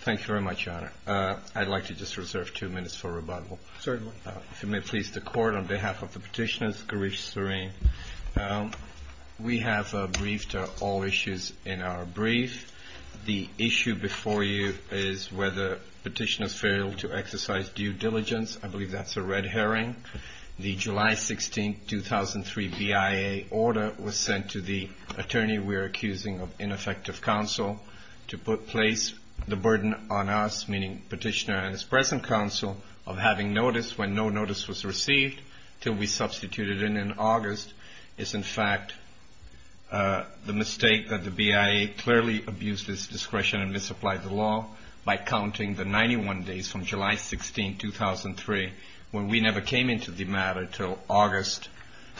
Thank you very much, Your Honor. I'd like to just reserve two minutes for rebuttal. Certainly. If you may please, the Court, on behalf of the petitioners, Garish Sareen. We have briefed all issues in our brief. The issue before you is whether petitioners failed to exercise due diligence. I believe that's a red herring. The July 16, 2003 BIA order was sent to the attorney we are accusing of ineffective counsel to place the burden on us, meaning petitioner and his present counsel, of having notice when no notice was received till we substituted in in August. It's in fact the mistake that the BIA clearly abused its discretion and misapplied the law by counting the 91 days from July 16, 2003, when we never came into the matter, till August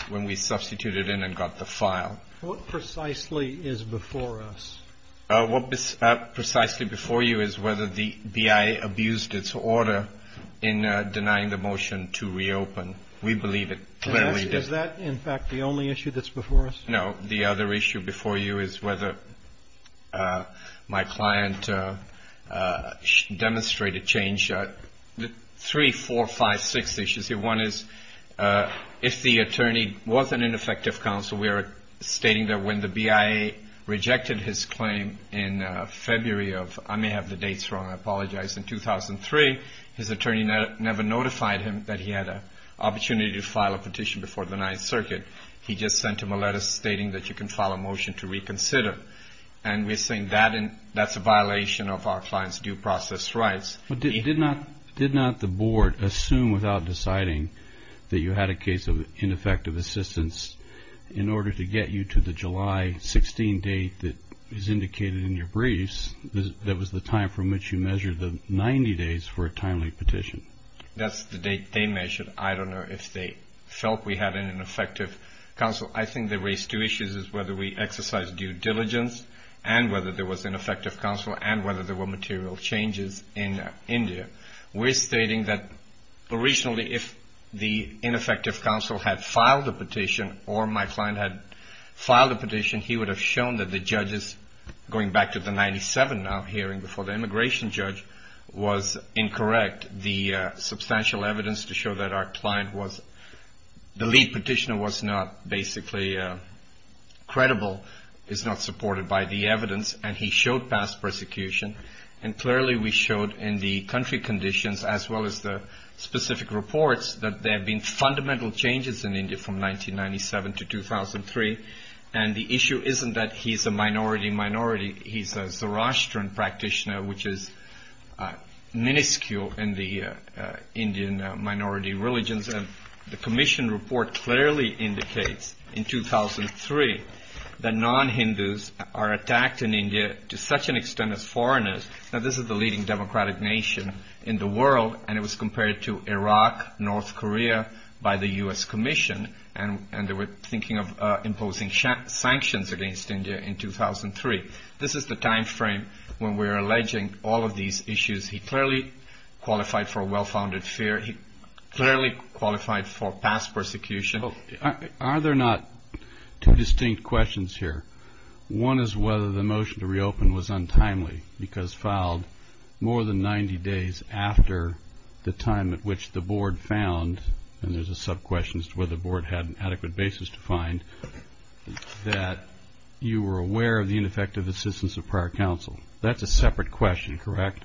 when we substituted in and got the file. What precisely is before us? What is precisely before you is whether the BIA abused its order in denying the motion to reopen. We believe it clearly did. Is that, in fact, the only issue that's before us? No. The other issue before you is whether my client demonstrated change. Three, four, five, six issues here. One is if the attorney was an ineffective counsel, we are stating that when the BIA rejected his claim in February of, I may have the dates wrong, I apologize, in 2003, his attorney never notified him that he had an opportunity to file a petition before the Ninth Circuit. He just sent him a letter stating that you can file a motion to reconsider. And we're saying that's a violation of our client's due process rights. Did not the Board assume without deciding that you had a case of ineffective assistance in order to get you to the July 16 date that is indicated in your briefs that was the time from which you measured the 90 days for a timely petition? That's the date they measured. I don't know if they felt we had an ineffective counsel. I think they raised two issues, is whether we exercised due diligence and whether there was ineffective counsel and whether there were material changes in India. We're stating that originally if the ineffective counsel had filed a petition or my client had filed a petition, he would have shown that the judges, going back to the 97 now hearing before the immigration judge, was incorrect. The substantial evidence to show that our client was, the lead petitioner was not basically credible is not supported by the evidence and he showed past persecution. And clearly we showed in the country conditions as well as the specific reports that there have been fundamental changes in India from 1997 to 2003. And the issue isn't that he's a minority minority, he's a Zoroastrian practitioner which is minuscule in the Indian minority religions. The commission report clearly indicates in 2003 that non-Hindus are attacked in India to such an extent as foreigners. Now this is the leading democratic nation in the world and it was compared to Iraq, North Korea by the U.S. Commission and they were thinking of imposing sanctions against India in 2003. This is the time frame when we're alleging all of these issues. He clearly qualified for a well-founded fear. He clearly qualified for past persecution. Are there not two distinct questions here? One is whether the motion to reopen was untimely because filed more than 90 days after the time at which the board found, and there's a sub-question as to whether the board had an adequate basis to find, that you were aware of the ineffective assistance of prior counsel. That's a separate question, correct?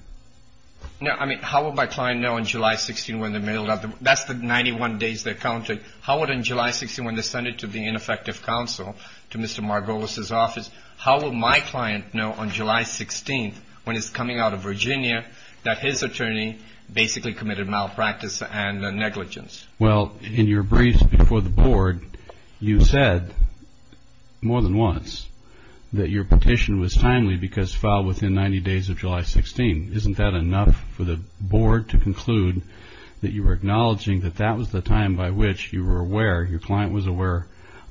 No, I mean, how would my client know on July 16th when they mailed out, that's the 91 days they counted, how would on July 16th when they sent it to the ineffective counsel, to Mr. Margolis' office, how would my client know on July 16th when it's coming out of Virginia that his attorney basically committed malpractice and negligence? Well, in your briefs before the board, you said more than once that your petition was timely because filed within 90 days of July 16th. Isn't that enough for the board to conclude that you were acknowledging that that was the time by which you were aware, your client was aware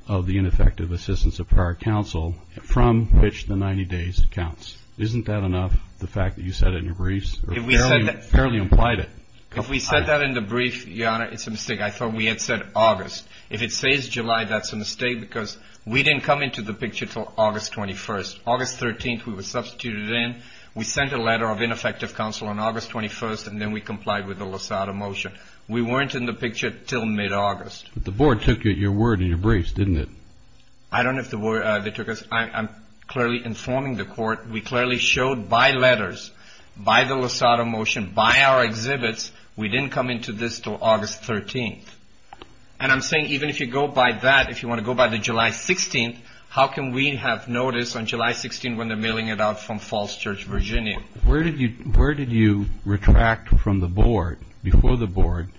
of the ineffective assistance of prior counsel from which the 90 days counts? Isn't that enough, the fact that you said it in your briefs? If we said that in the brief, Your Honor, it's a mistake. I thought we had said August. If it says July, that's a mistake because we didn't come into the picture until August 21st. August 13th we were substituted in. We sent a letter of ineffective counsel on August 21st and then we complied with the Lozada motion. We weren't in the picture until mid-August. But the board took your word in your briefs, didn't it? I don't know if they took us. I'm clearly informing the court. We clearly showed by letters, by the Lozada motion, by our exhibits, we didn't come into this until August 13th. And I'm saying even if you go by that, if you want to go by the July 16th, how can we have notice on July 16th when they're mailing it out from Falls Church, Virginia? Where did you retract from the board, before the board,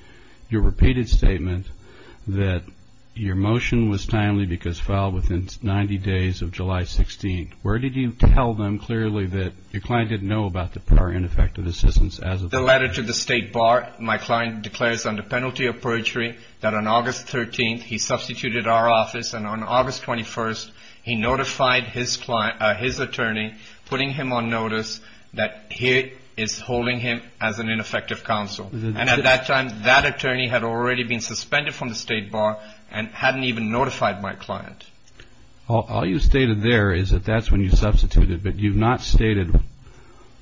your repeated statement that your motion was timely because filed within 90 days of July 16th? Where did you tell them clearly that your client didn't know about the prior ineffective assistance as of that time? The letter to the State Bar, my client declares under penalty of perjury that on August 13th he substituted our office and on August 21st he notified his attorney, putting him on notice that he is holding him as an ineffective counsel. And at that time, that attorney had already been suspended from the State Bar and hadn't even notified my client. All you stated there is that that's when you substituted, but you've not stated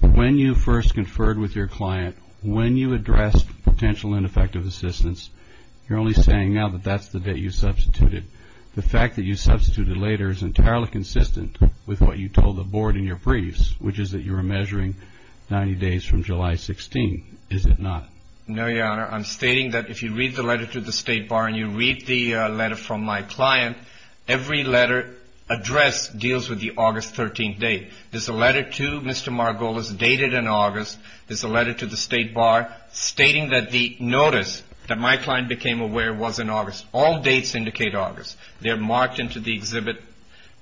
when you first conferred with your client, when you addressed potential ineffective assistance. You're only saying now that that's the day you substituted. The fact that you substituted later is entirely consistent with what you told the board in your briefs, which is that you were measuring 90 days from July 16th. Is it not? No, Your Honor. I'm stating that if you read the letter to the State Bar and you read the letter from my client, every letter addressed deals with the August 13th date. There's a letter to Mr. Margolis dated in August. There's a letter to the State Bar stating that the notice that my client became aware was in August. All dates indicate August. They're marked into the exhibit.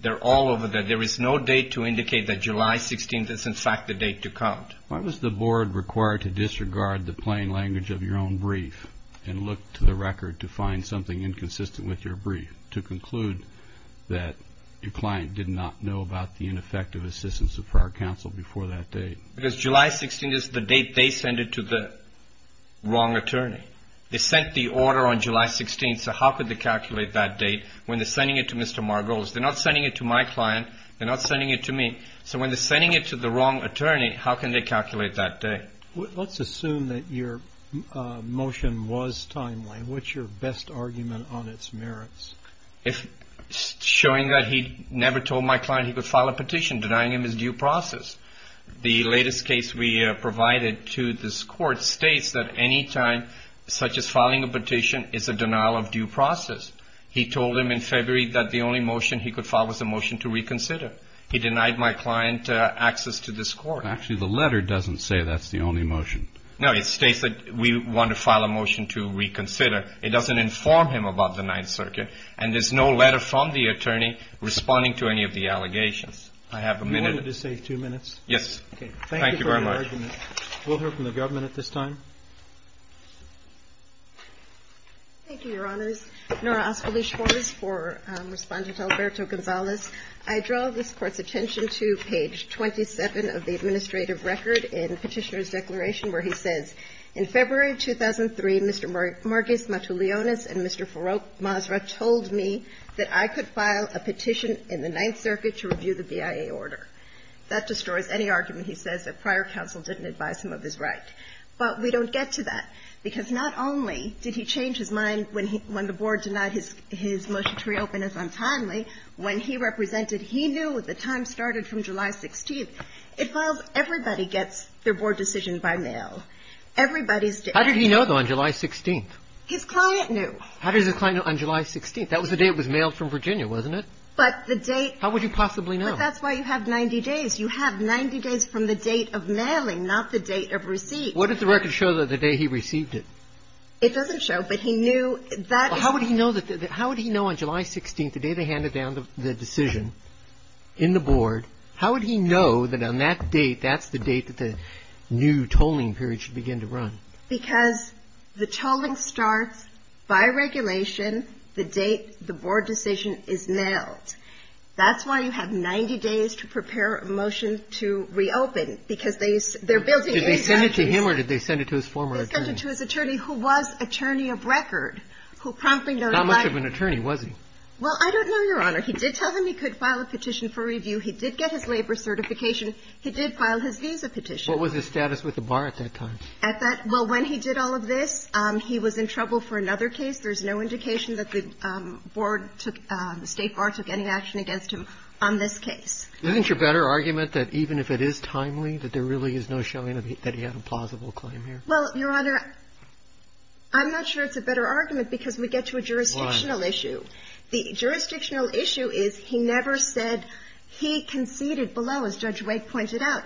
They're all over there. There is no date to indicate that July 16th is, in fact, the date to count. Why was the board required to disregard the plain language of your own brief and look to the record to find something inconsistent with your brief to conclude that your client did not know about the ineffective assistance of prior counsel before that date? Because July 16th is the date they sent it to the wrong attorney. They sent the order on July 16th. So how could they calculate that date when they're sending it to Mr. Margolis? They're not sending it to my client. They're not sending it to me. So when they're sending it to the wrong attorney, how can they calculate that date? Let's assume that your motion was timely. What's your best argument on its merits? Showing that he never told my client he could file a petition, denying him his due process. The latest case we provided to this court states that any time such as filing a petition is a denial of due process. He told him in February that the only motion he could file was a motion to reconsider. He denied my client access to this court. Actually, the letter doesn't say that's the only motion. No, it states that we want to file a motion to reconsider. It doesn't inform him about the Ninth Circuit, and there's no letter from the attorney responding to any of the allegations. I have a minute. Would you like me to save two minutes? Yes. Thank you very much. Thank you for your argument. We'll hear from the government at this time. Thank you, Your Honors. Nora Osvaldez-Jones for Respondent Alberto Gonzalez. I draw this Court's attention to page 27 of the administrative record in Petitioner's Declaration where he says, In February 2003, Mr. Margolis, Matuleonis, and Mr. Masra told me that I could file a petition in the Ninth Circuit to review the BIA order. That destroys any argument he says that prior counsel didn't advise him of his right. But we don't get to that, because not only did he change his mind when he – when the Board denied his motion to reopen as untimely, when he represented, he knew the time started from July 16th. It files – everybody gets their Board decision by mail. Everybody's – How did he know, though, on July 16th? His client knew. How does his client know on July 16th? That was the day it was mailed from Virginia, wasn't it? But the date – How would he possibly know? But that's why you have 90 days. You have 90 days from the date of mailing, not the date of receipt. What did the record show the day he received it? It doesn't show, but he knew that – Well, how would he know that – how would he know on July 16th, the day they handed down the decision in the Board, how would he know that on that date, that's the date that the new tolling period should begin to run? Because the tolling starts by regulation. The date, the Board decision is mailed. That's why you have 90 days to prepare a motion to reopen, because they – they're building any guarantees. Did they send it to him or did they send it to his former attorney? They sent it to his attorney, who was attorney of record, who promptly notified him. How much of an attorney was he? Well, I don't know, Your Honor. He did tell them he could file a petition for review. He did get his labor certification. He did file his visa petition. What was his status with the bar at that time? At that – well, when he did all of this, he was in trouble for another case. There's no indication that the Board took – the State Bar took any action against him on this case. Isn't your better argument that even if it is timely, that there really is no showing that he had a plausible claim here? Well, Your Honor, I'm not sure it's a better argument because we get to a jurisdictional issue. Why? The jurisdictional issue is he never said – he conceded below, as Judge Wake pointed out,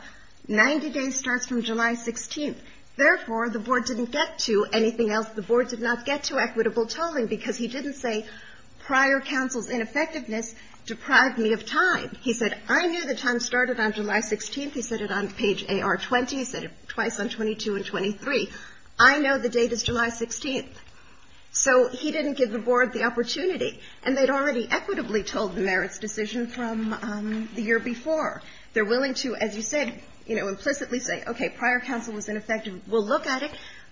90 days starts from July 16th. Therefore, the Board didn't get to anything else. The Board did not get to equitable tolling because he didn't say prior counsel's ineffectiveness deprived me of time. He said, I knew the time started on July 16th. He said it on page AR-20. He said it twice on 22 and 23. I know the date is July 16th. So he didn't give the Board the opportunity. And they'd already equitably told the merits decision from the year before. They're willing to, as you said, you know, implicitly say, okay, prior counsel was ineffective, we'll look at it,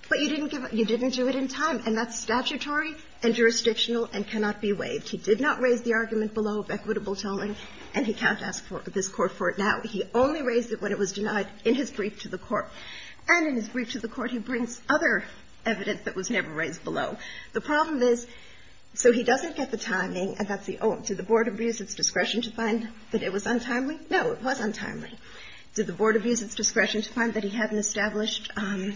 but you didn't give – you didn't do it in time. And that's statutory and jurisdictional and cannot be waived. He did not raise the argument below of equitable tolling, and he can't ask this Court for it now. He only raised it when it was denied in his brief to the Court. And in his brief to the Court, he brings other evidence that was never raised below. The problem is, so he doesn't get the timing, and that's the – oh, did the Board abuse its discretion to find that it was untimely? No, it was untimely. Did the Board abuse its discretion to find that he hadn't established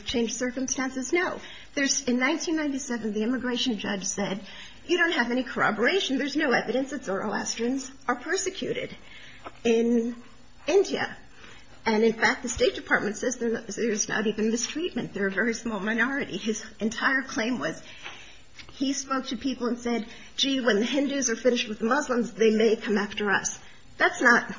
changed circumstances? No. There's – in 1997, the immigration judge said, you don't have any corroboration. There's no evidence that Zoroastrians are persecuted in India. And in fact, the State Department says there's not even mistreatment. They're a very small minority. His entire claim was – he spoke to people and said, gee, when the Hindus are finished with the Muslims, they may come after us. That's not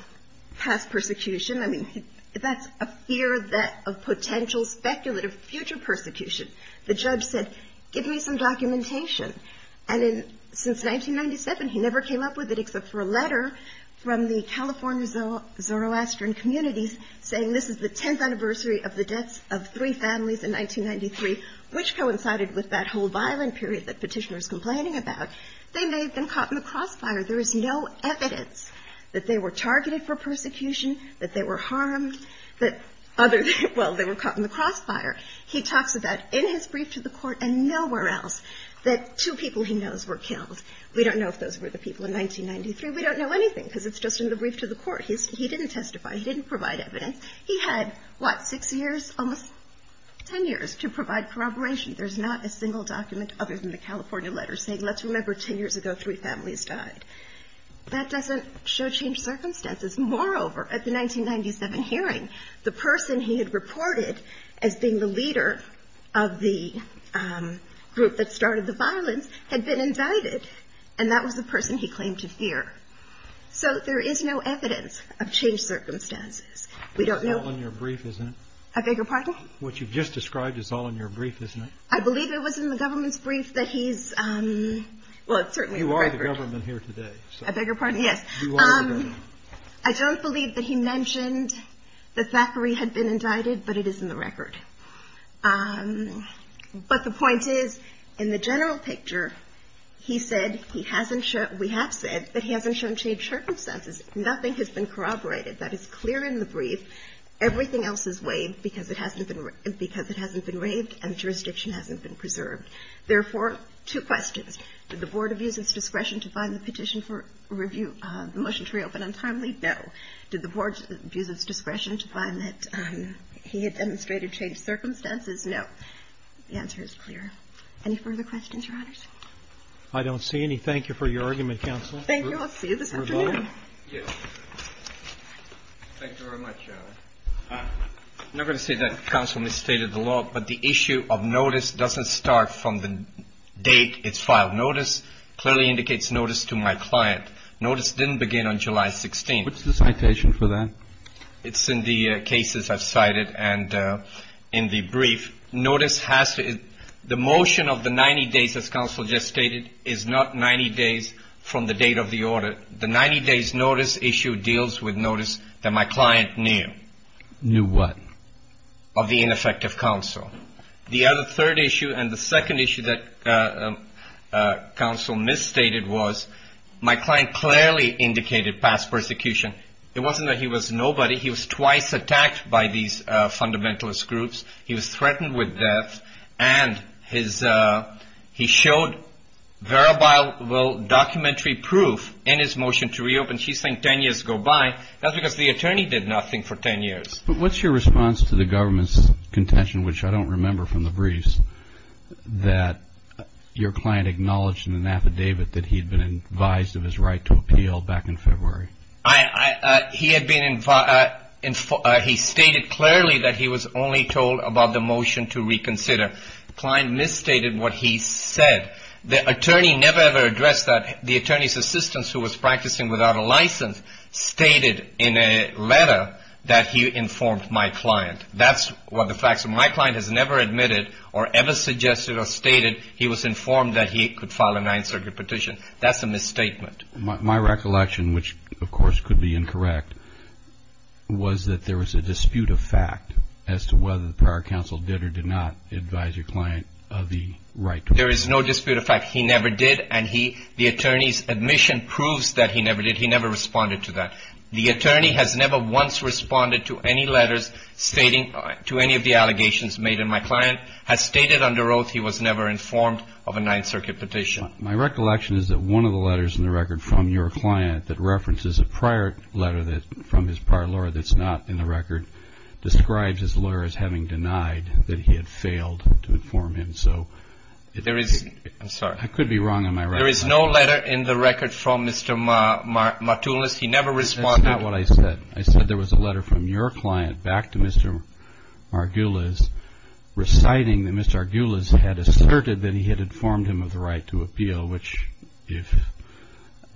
past persecution. I mean, that's a fear that – of potential speculative future persecution. The judge said, give me some documentation. And in – since 1997, he never came up with it except for a letter from the California Zoroastrian communities saying this is the 10th anniversary of the deaths of three families in 1993, which coincided with that whole violent period that Petitioner is complaining about. They may have been caught in the crossfire. There is no evidence that they were targeted for persecution, that they were harmed, that other – well, they were caught in the crossfire. He talks about in his brief to the court and nowhere else that two people he knows were killed. We don't know if those were the people in 1993. We don't know anything because it's just in the brief to the court. He didn't testify. He didn't provide evidence. He had, what, six years? Almost 10 years to provide corroboration. There's not a single document other than the California letter saying let's remember 10 years ago three families died. That doesn't show changed circumstances. Moreover, at the 1997 hearing, the person he had reported as being the leader of the group that started the violence had been indicted, and that was the person he claimed to fear. So there is no evidence of changed circumstances. We don't know – It's all in your brief, isn't it? I beg your pardon? What you've just described is all in your brief, isn't it? I believe it was in the government's brief that he's – well, it's certainly in the record. You are the government here today. I beg your pardon? Yes. You are the government. I don't believe that he mentioned that Zachary had been indicted, but it is in the record. But the point is, in the general picture, he said he hasn't – we have said that he hasn't shown changed circumstances. Nothing has been corroborated. That is clear in the brief. Everything else is waived because it hasn't been – because it hasn't been raved and jurisdiction hasn't been preserved. Therefore, two questions. Did the Board abuse its discretion to find the petition for review – the motion to reopen untimely? No. Did the Board abuse its discretion to find that he had demonstrated changed circumstances? No. The answer is clear. Any further questions, Your Honors? I don't see any. Thank you for your argument, counsel. Thank you. I'll see you this afternoon. Yes. Thank you very much. I'm not going to say that counsel misstated the law, but the issue of notice doesn't start from the date it's filed. Notice clearly indicates notice to my client. Notice didn't begin on July 16th. What's the citation for that? It's in the cases I've cited and in the brief. Notice has to – the motion of the 90 days, as counsel just stated, is not 90 days from the date of the audit. The 90 days notice issue deals with notice that my client knew. Knew what? Of the ineffective counsel. The other third issue and the second issue that counsel misstated was my client clearly indicated past persecution. It wasn't that he was nobody. He was twice attacked by these fundamentalist groups. He was threatened with death. And his – he showed verifiable documentary proof in his motion to reopen. She's saying 10 years go by. That's because the attorney did nothing for 10 years. But what's your response to the government's contention, which I don't remember from the briefs, that your client acknowledged in an affidavit that he had been advised of his right to appeal back in February? He had been – he stated clearly that he was only told about the motion to reconsider. The client misstated what he said. The attorney never, ever addressed that. The attorney's assistant, who was practicing without a license, stated in a letter that he informed my client. That's what the facts are. My client has never admitted or ever suggested or stated he was informed that he could file a Ninth Circuit petition. That's a misstatement. My recollection, which of course could be incorrect, was that there was a dispute of fact as to whether the Power Council did or did not advise your client of the right to appeal. There is no dispute of fact. He never did. And he – the attorney's admission proves that he never did. He never responded to that. The attorney has never once responded to any letters stating – to any of the allegations made. And my client has stated under oath he was never informed of a Ninth Circuit petition. My recollection is that one of the letters in the record from your client that references a prior letter from his prior lawyer that's not in the record describes his lawyer as having denied that he had failed to inform him. So – There is – I'm sorry. I could be wrong on my record. There is no letter in the record from Mr. Martullis. He never responded. That's not what I said. I said there was a letter from your client back to Mr. Margulis reciting that Mr. Margulis had asserted that he had informed him of the right to appeal, which if –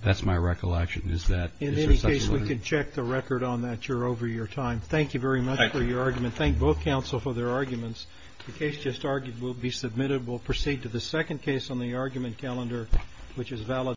that's my recollection. Is that – In any case, we can check the record on that. You're over your time. Thank you very much for your argument. Thank you. Thank both counsel for their arguments. The case just argued will be submitted. We'll proceed to the second case on the argument calendar, which is valid.